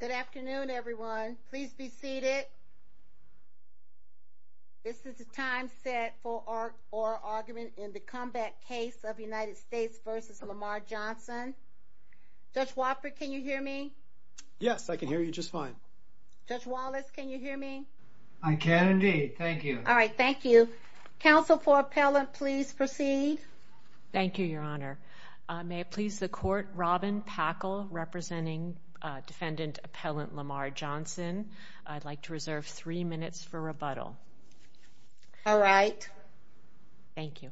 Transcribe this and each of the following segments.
Good afternoon, everyone. Please be seated. This is the time set for our argument in the comeback case of United States v. Lamar Johnson. Judge Wofford, can you hear me? Yes, I can hear you just fine. Judge Wallace, can you hear me? I can indeed. Thank you. All right. Thank you. Council for appellant. Please proceed. Thank you, Your Honor. May it please the appellant Lamar Johnson. I'd like to reserve three minutes for rebuttal. All right. Thank you.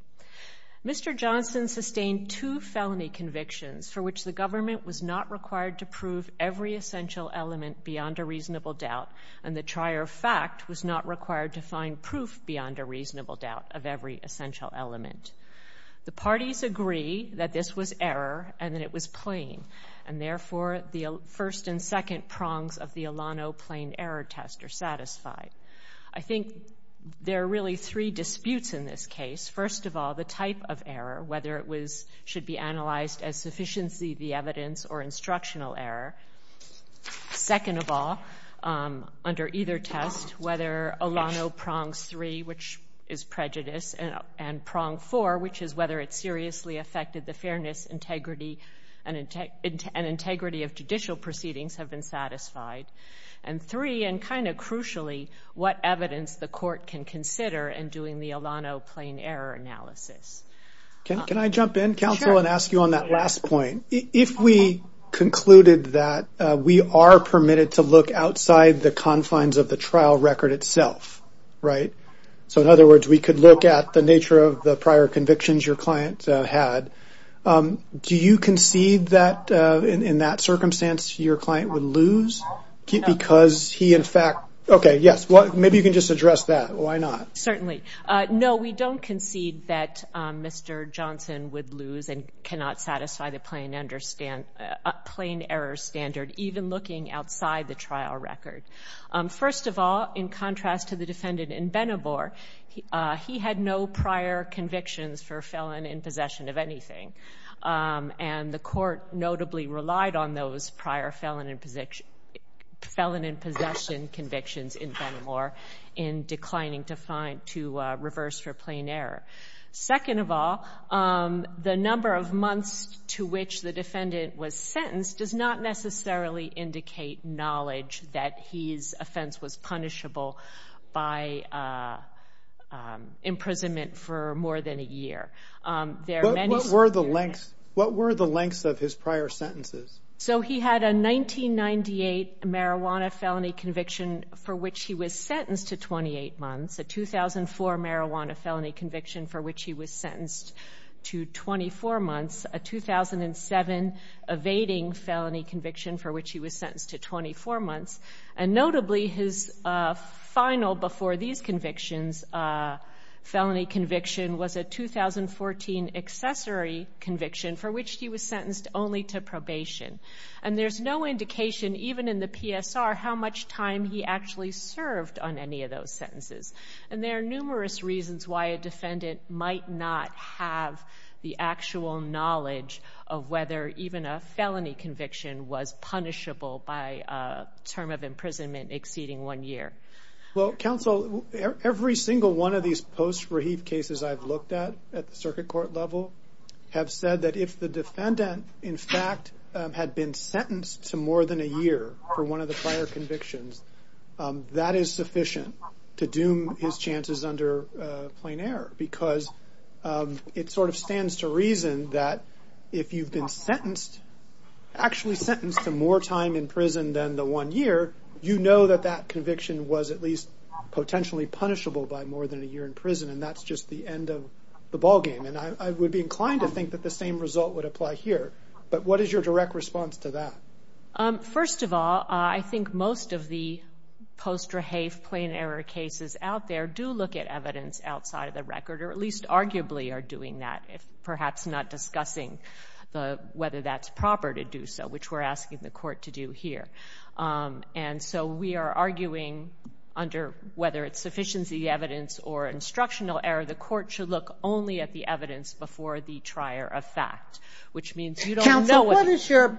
Mr. Johnson sustained two felony convictions for which the government was not required to prove every essential element beyond a reasonable doubt, and the trier fact was not required to find proof beyond a reasonable doubt of every essential element. The parties agree that this was the second prongs of the Alano plain error test are satisfied. I think there are really three disputes in this case. First of all, the type of error, whether it was should be analyzed as sufficiency, the evidence or instructional error. Second of all, under either test, whether Alano prongs three, which is prejudice and prong four, which is whether it seriously affected the fairness, integrity and integrity of judicial proceedings, have been satisfied. And three, and kind of crucially, what evidence the court can consider in doing the Alano plain error analysis. Can I jump in, counsel, and ask you on that last point? If we concluded that we are permitted to look outside the confines of the trial record itself, right? So in other words, we could look at the nature of the prior convictions your client had. Do you concede that in that circumstance, your client would lose because he, in fact, okay, yes, well, maybe you can just address that. Why not? Certainly. No, we don't concede that Mr. Johnson would lose and cannot satisfy the plain understand plain error standard, even looking outside the trial record. First of all, in contrast to the defendant in Benabor, he had no prior convictions for felon in possession of anything. And the court notably relied on those prior felon in possession convictions in Benabor in declining to reverse for plain error. Second of all, the number of months to which the defendant was sentenced does not necessarily indicate knowledge that his offense was punishable by imprisonment for more than a year. What were the lengths of his prior sentences? So he had a 1998 marijuana felony conviction for which he was sentenced to 28 months, a 2004 marijuana felony conviction for which he was sentenced to 24 months, a 2007 evading felony conviction for which he was sentenced to 24 months, and a 2014 accessory conviction for which he was sentenced only to probation. And there's no indication, even in the PSR, how much time he actually served on any of those sentences. And there are numerous reasons why a defendant might not have the actual knowledge of whether even a felony conviction was punishable by a term of imprisonment exceeding one year. Well, counsel, every single one of these post-Rahif cases I've looked at at the circuit court level have said that if the defendant, in fact, had been sentenced to more than a year for one of the prior convictions, that is sufficient to doom his chances under plain error. Because it sort of stands to reason that if you've been sentenced, actually sentenced to more time in prison than the one year, you know that that that's just the end of the ballgame. And I would be inclined to think that the same result would apply here. But what is your direct response to that? First of all, I think most of the post-Rahif plain error cases out there do look at evidence outside of the record, or at least arguably are doing that, if perhaps not discussing whether that's proper to do so, which we're asking the court to do here. And so we are arguing under whether it's sufficiency evidence or instructional error, the court should look only at the evidence before the trier of fact, which means you don't know what is your...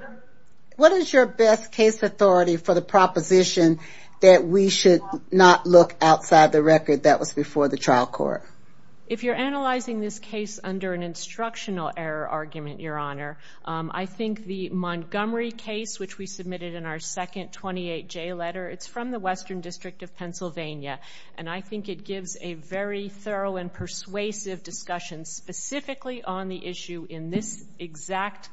What is your best case authority for the proposition that we should not look outside the record that was before the trial court? If you're analyzing this case under an instructional error argument, Your Honor, I think the Montgomery case, which we submitted in our second 28J letter, it's from the Western District of Montgomery, has a very thorough and persuasive discussion specifically on the issue in this exact...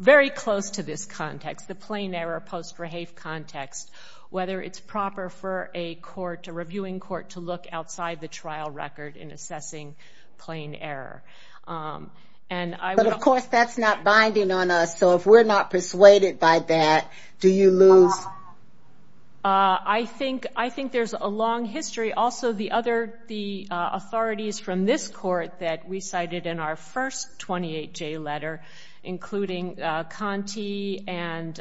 Very close to this context, the plain error post-Rahif context, whether it's proper for a court, a reviewing court, to look outside the trial record in assessing plain error. And I... But of course that's not binding on us, so if we're not persuaded by that, do you lose... I think there's a long history. The authorities from this court that we cited in our first 28J letter, including Conte and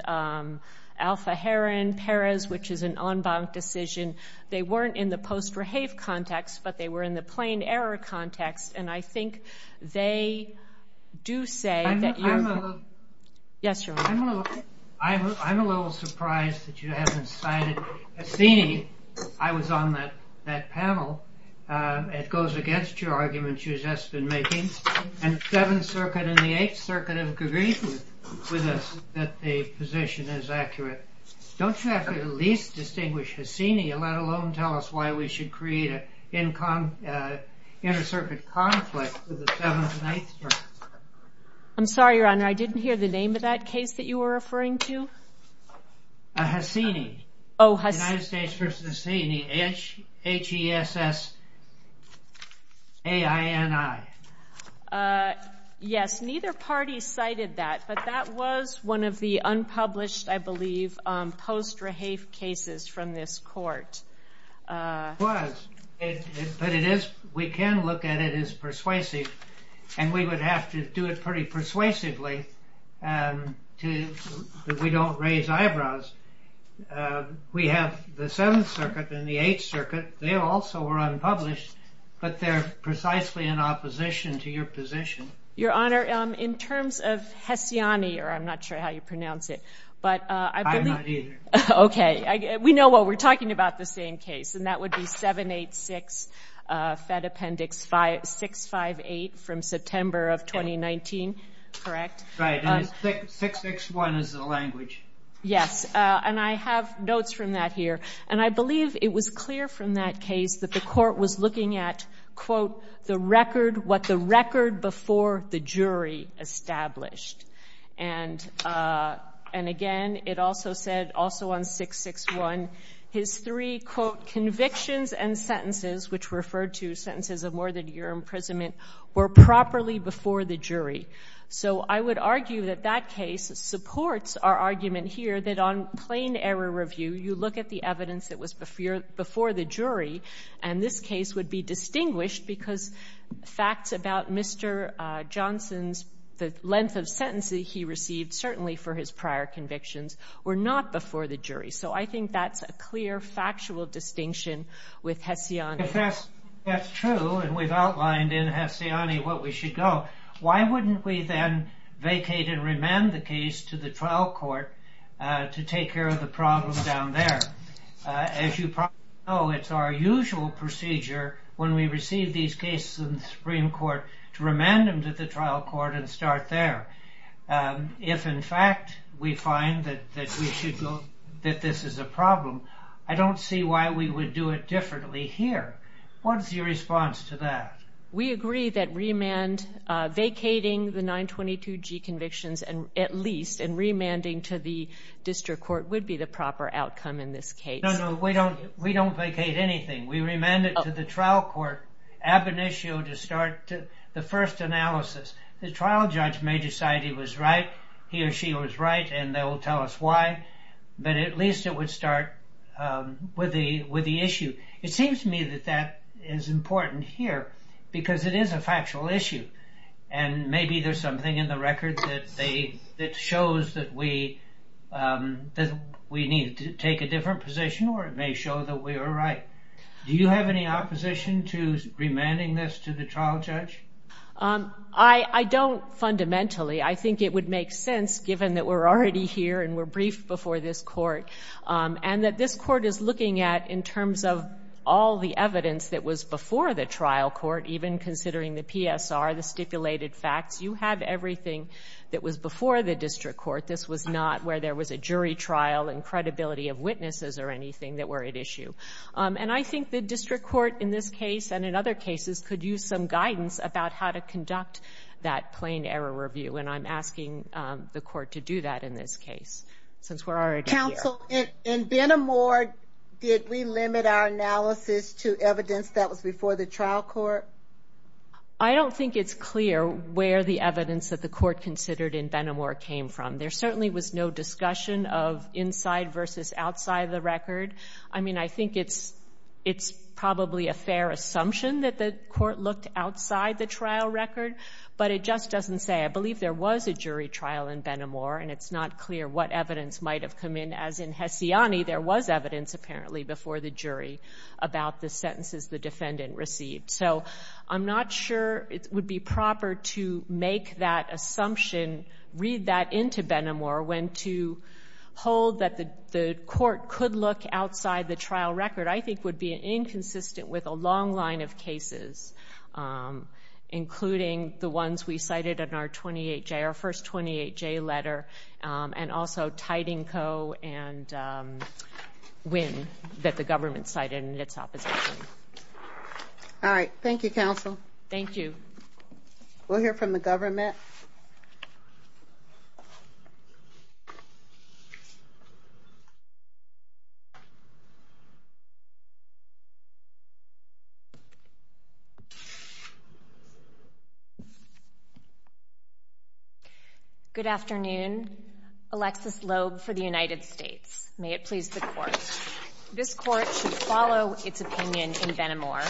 Alpha Heron-Perez, which is an en banc decision, they weren't in the post-Rahif context, but they were in the plain error context. And I think they do say that you're... I'm a little... Yes, Your Honor. I'm a little surprised that you haven't cited Hassini. I was on that panel. It goes against your arguments you've just been making. And Seventh Circuit and the Eighth Circuit have agreed with us that the position is accurate. Don't you have to at least distinguish Hassini, let alone tell us why we should create an inter-circuit conflict with the Seventh and Eighth Circuit? I'm sorry, Your Honor, I didn't hear the name of that case that you were referring to? Hassini. Oh, Hassini. United States v. Hassini. H-E-S-S-A-I-N-I. Yes, neither party cited that, but that was one of the unpublished, I believe, post-Rahif cases from this court. It was, but we can look at it as persuasive, and we would have to do it pretty that we don't raise eyebrows. We have the Seventh Circuit and the Eighth Circuit. They also were unpublished, but they're precisely in opposition to your position. Your Honor, in terms of Hassini, or I'm not sure how you pronounce it, but... I'm not either. Okay, we know what we're talking about the same case, and that would be 786 Fed Appendix 658 from September of 2019, correct? Right, and 661 is the language. Yes, and I have notes from that here, and I believe it was clear from that case that the court was looking at, quote, the record, what the record before the jury established, and again, it also said, also on 661, his three, quote, convictions and sentences, which referred to sentences of more than a year imprisonment, were properly before the jury. So I would argue that that case supports our argument here that on plain error review, you look at the evidence that was before the jury, and this case would be distinguished because facts about Mr. Johnson's, the length of sentences he received, certainly for his prior convictions, were not before the jury. So I think that's a clear, factual distinction with Hassini. If that's true, and we've outlined in Hassini what we should go, why wouldn't we then vacate and remand the case to the trial court to take care of the problem down there? As you probably know, it's our usual procedure when we receive these cases in the Supreme Court to remand them to the trial court and start there. If in fact we find that this is a problem, I don't see why we would do it differently here. What's your response to that? We agree that remand, vacating the 922G convictions at least and remanding to the district court would be the proper outcome in this case. No, no, we don't vacate anything. We remand it to the trial court ab initio to start the first analysis. The trial judge may decide he was right, he or she was right, and they will tell us why, but at least it would start with the issue. It seems to me that that is important here because it is a factual issue, and maybe there's something in the record that shows that we need to take a different position, or it may show that we were right. Do you have any opposition to remanding this to the trial judge? I don't fundamentally. I think it would make sense given that we're already here and we're briefed before this court, and that this court is looking at in terms of all the evidence that was before the trial court, even considering the PSR, the stipulated facts. You have everything that was before the district court. This was not where there was a jury trial and credibility of witnesses or anything that were at issue. I think the district court in this case and in other cases could use some guidance about how to conduct that plain error review, and I'm asking the court to do that in this case since we're already here. Counsel, in Benamor, did we limit our analysis to evidence that was before the trial court? I don't think it's clear where the evidence that the court considered in Benamor came from. There certainly was no discussion of inside versus outside the record. I mean, I think it's probably a fair assumption that the court looked outside the trial record, but it just doesn't say. I believe there was a jury trial in Benamor, and it's not clear what evidence might have come in. As in Hessiani, there was evidence, apparently, before the jury about the sentences the defendant received. So I'm not sure it would be proper to make that assumption, read that into Benamor, when to hold that the court could look outside the trial record, I think would be inconsistent with a long line of cases, including the ones we cited in our first 28-J letter and also Tidingco and Winn that the government cited in its opposition. All right. Thank you, Counsel. Thank you. We'll hear from the government. Good afternoon. Alexis Loeb for the United States. May it please the Court, this Court should follow its opinion in Benamor,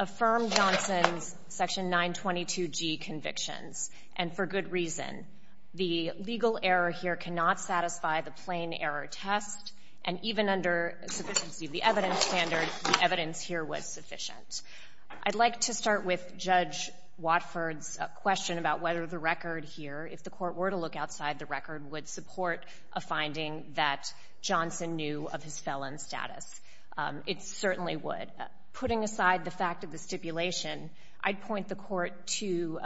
affirm Johnson's Section 922G convictions, and for good reason. The legal error here cannot satisfy the plain error test, and even under sufficiency of the evidence standard, the evidence here was sufficient. I'd like to start with Judge Watford's question about whether the record here, if the court were to look outside the record, would support a finding that Johnson knew of his felon status. It certainly would. Putting aside the fact of the stipulation, I'd point the court to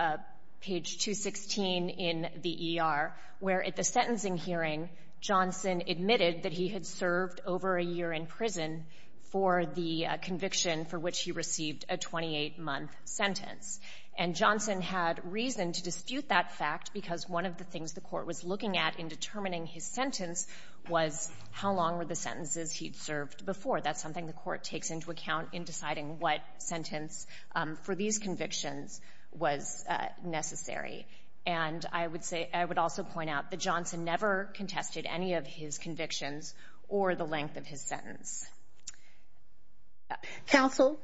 page 216 in the ER, where at the sentencing hearing, Johnson admitted that he had served over a year in prison for the conviction for which he received a 28-month sentence. And Johnson had reason to dispute that fact because one of the things the court was looking at in determining his sentence was how long were the sentences he'd served before. That's something the court takes into account in deciding what sentence for these convictions was necessary. And I would also point out that Johnson never contested any of his convictions or the length of his sentence. Counsel?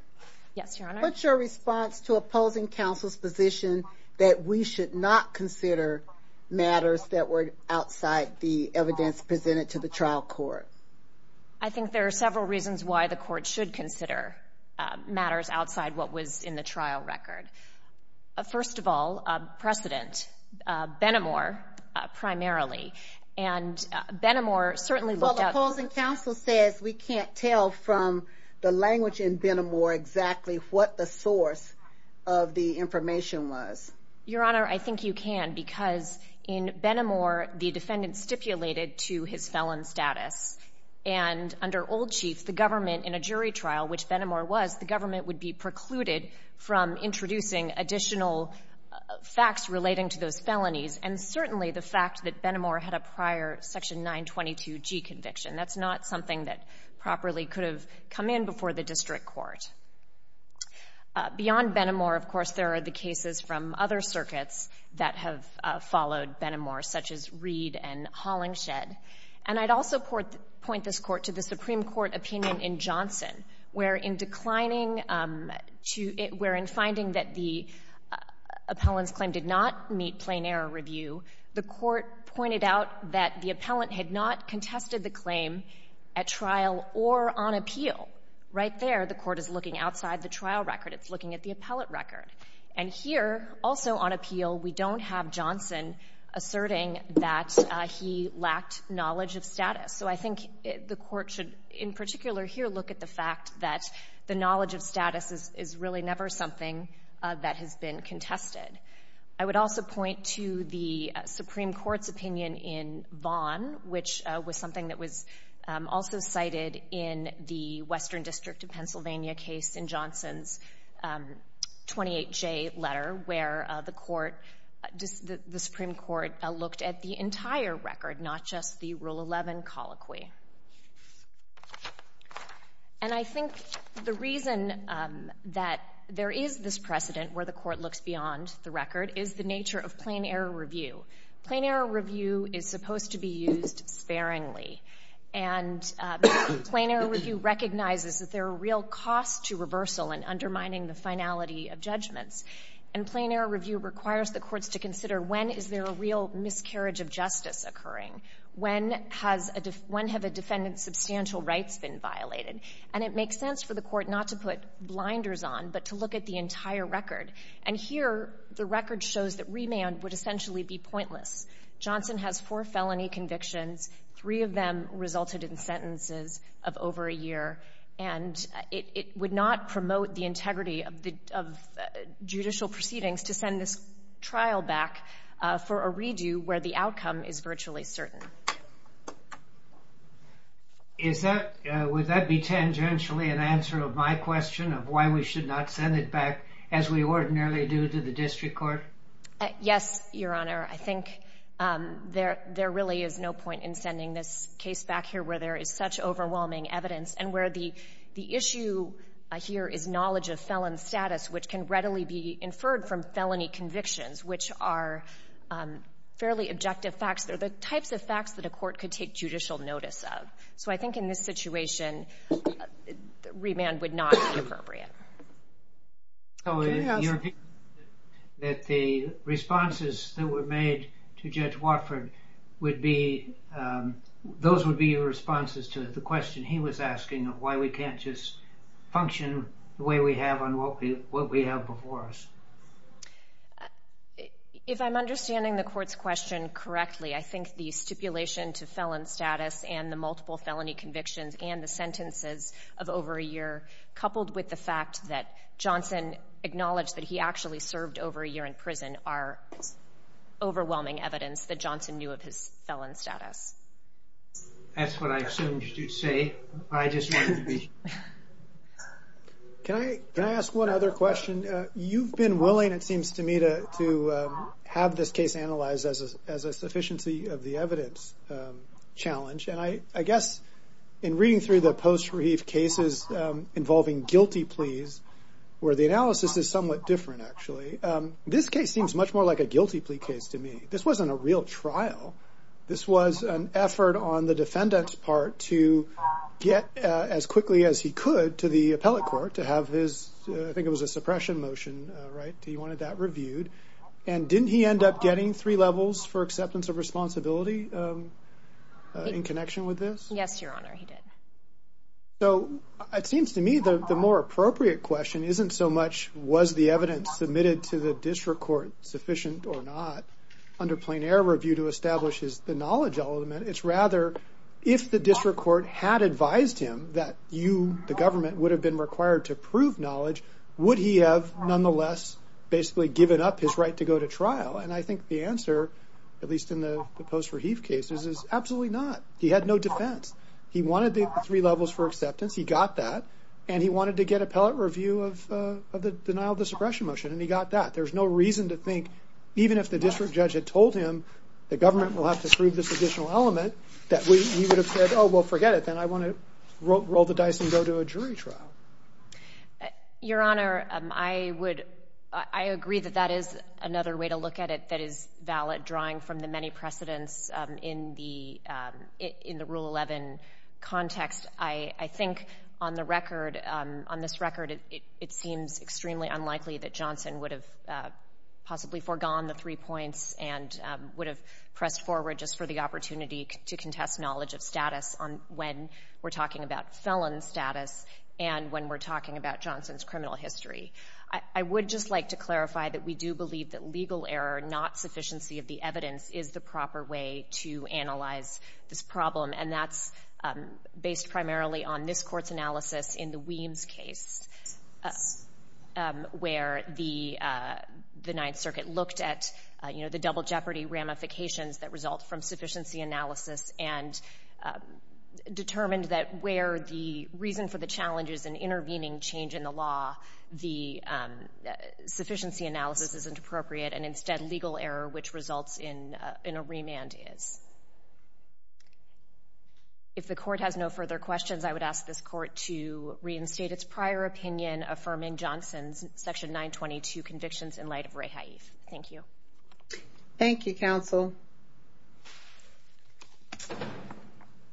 Yes, Your Honor? What's your response to opposing counsel's position that we should not consider matters that were outside the evidence presented to the trial court? I think there are several reasons why the court should consider matters outside what was in the trial record. First of all, precedent. Benamor, primarily. Well, the opposing counsel says we can't tell from the language in Benamor exactly what the source of the information was. Your Honor, I think you can because in Benamor, the defendant stipulated to his felon status. And under Old Chief, the government in a jury trial, which Benamor was, the government would be precluded from introducing additional facts relating to those felonies. And certainly, the fact that Benamor had a prior Section 922G conviction, that's not something that properly could have come in before the district court. Beyond Benamor, of course, there are the cases from other circuits that have followed Benamor, such as Reed and Hollingshed. And I'd also point this Court to the Supreme Court opinion in Johnson, where in declining to — where in finding that the appellant's claim did not meet plain error review, the Court pointed out that the appellant had not contested the claim at trial or on appeal. Right there, the Court is looking outside the trial record. It's looking at the appellate record. And here, also on appeal, we don't have Johnson asserting that he lacked knowledge of status. So I think the Court should, in particular here, look at the fact that the knowledge of status is really never something that has been contested. I would also point to the Supreme Court's opinion in Vaughn, which was something that was also cited in the Western District of Pennsylvania case in Johnson's 28J letter, where the Supreme Court looked at the entire record, not just the Rule 11 colloquy. And I think the reason that there is this precedent where the Court looks beyond the record is the nature of plain error review. Plain error review is supposed to be used sparingly. And plain error review recognizes that there are real costs to reversal in undermining the finality of judgments. And plain error review requires the courts to consider when is there a real miscarriage of justice occurring, when have a defendant's substantial rights been violated. And it makes sense for the Court not to put blinders on, but to look at the entire record. And here, the record shows that remand would essentially be pointless. Johnson has four felony convictions. Three of them resulted in sentences of over a year. And it would not promote the integrity of judicial proceedings to send this trial back for a redo where the outcome is virtually certain. Would that be tangentially an answer of my question of why we should not send it back as we ordinarily do to the district court? Yes, Your Honor. I think there really is no point in sending this case back here where there is such overwhelming evidence and where the issue here is knowledge of felon status, which can readily be inferred from felony convictions, which are fairly objective facts. They're the types of facts that a court could take judicial notice of. So I think in this situation, remand would not be appropriate. Your opinion is that the responses that were made to Judge Watford, those would be your responses to the question he was asking of why we can't just function the way we have on what we have before us. If I'm understanding the Court's question correctly, I think the stipulation to felon status and the multiple felony convictions and the sentences of over a year, coupled with the fact that Johnson acknowledged that he actually served over a year in prison, are overwhelming evidence that Johnson knew of his felon status. That's what I assumed you'd say. I just wanted to be sure. Can I ask one other question? You've been willing, it seems to me, to have this case analyzed as a sufficiency of the evidence challenge. And I guess in reading through the post-relief cases involving guilty pleas, where the analysis is somewhat different, actually, this case seems much more like a guilty plea case to me. This wasn't a real trial. This was an effort on the defendant's part to get as quickly as he could to the appellate court to have his, I think it was a suppression motion. Right. He wanted that reviewed. And didn't he end up getting three levels for acceptance of responsibility? In connection with this? Yes, Your Honor, he did. So it seems to me that the more appropriate question isn't so much, was the evidence submitted to the district court sufficient or not, under plein air review to establish the knowledge element. It's rather, if the district court had advised him that you, the government, would have been required to prove knowledge, would he have nonetheless basically given up his right to go to trial? And I think the answer, at least in the post-relief cases, is absolutely not. He had no defense. He wanted the three levels for acceptance. He got that. And he wanted to get appellate review of the denial of the suppression motion. And he got that. There's no reason to think, even if the district judge had told him the government will have to prove this additional element, that he would have said, oh, well, forget it. Then I want to roll the dice and go to a jury trial. Your Honor, I agree that that is another way to look at it that is valid, drawing from the many precedents in the Rule 11 context. I think, on this record, it seems extremely unlikely that Johnson would have possibly foregone the three points and would have pressed forward just for the opportunity to contest knowledge of status on when we're talking about felon status and when we're talking about Johnson's criminal history. I would just like to clarify that we do believe that legal error, not sufficiency of the evidence, is the proper way to analyze this problem. And that's based primarily on this Court's analysis in the Weems case, where the Ninth Circuit looked at the double jeopardy ramifications that result from sufficiency analysis and determined that where the reason for the challenge is an intervening change in the law, the sufficiency analysis isn't appropriate, and instead legal error, which results in a remand, is. If the Court has no further questions, I would ask this Court to reinstate its prior opinion affirming Johnson's Section 922 convictions in light of Raeha Eve. Thank you. Thank you, Counsel.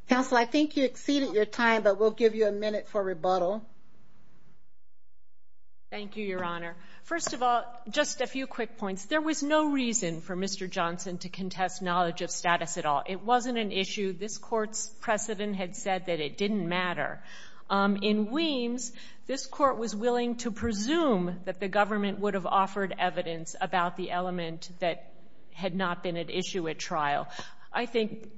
Counsel, I think you exceeded your time, but we'll give you a minute for rebuttal. Thank you, Your Honor. First of all, just a few quick points. There was no reason for Mr. Johnson to contest knowledge of status at all. It wasn't an issue. This Court's precedent had said that it didn't matter. In Weems, this Court was willing to presume that the government would have offered evidence about the element that had not been at issue at trial. I think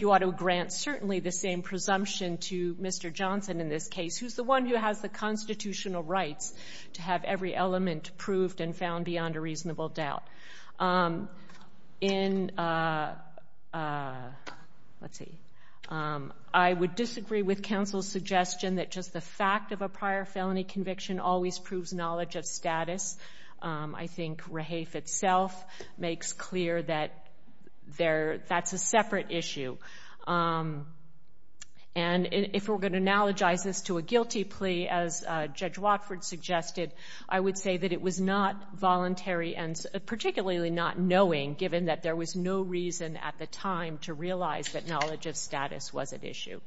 you ought to grant certainly the same presumption to Mr. Johnson in this case, who's the one who has the constitutional rights to have every element proved and found beyond a reasonable doubt. I would disagree with Counsel's suggestion that just the fact of a prior felony conviction always proves knowledge of status. I think Raeha Eve itself makes clear that that's a separate issue. If we're going to analogize this to a guilty plea, as Judge Watford suggested, I would say that it was not voluntary and particularly not knowing, given that there was no reason at the time to realize that knowledge of status was at issue.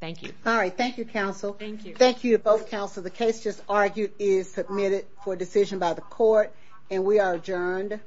Thank you. All right. Thank you, Counsel. Thank you. Thank you to both Counsel. The case just argued is submitted for decision by the Court, and we are adjourned.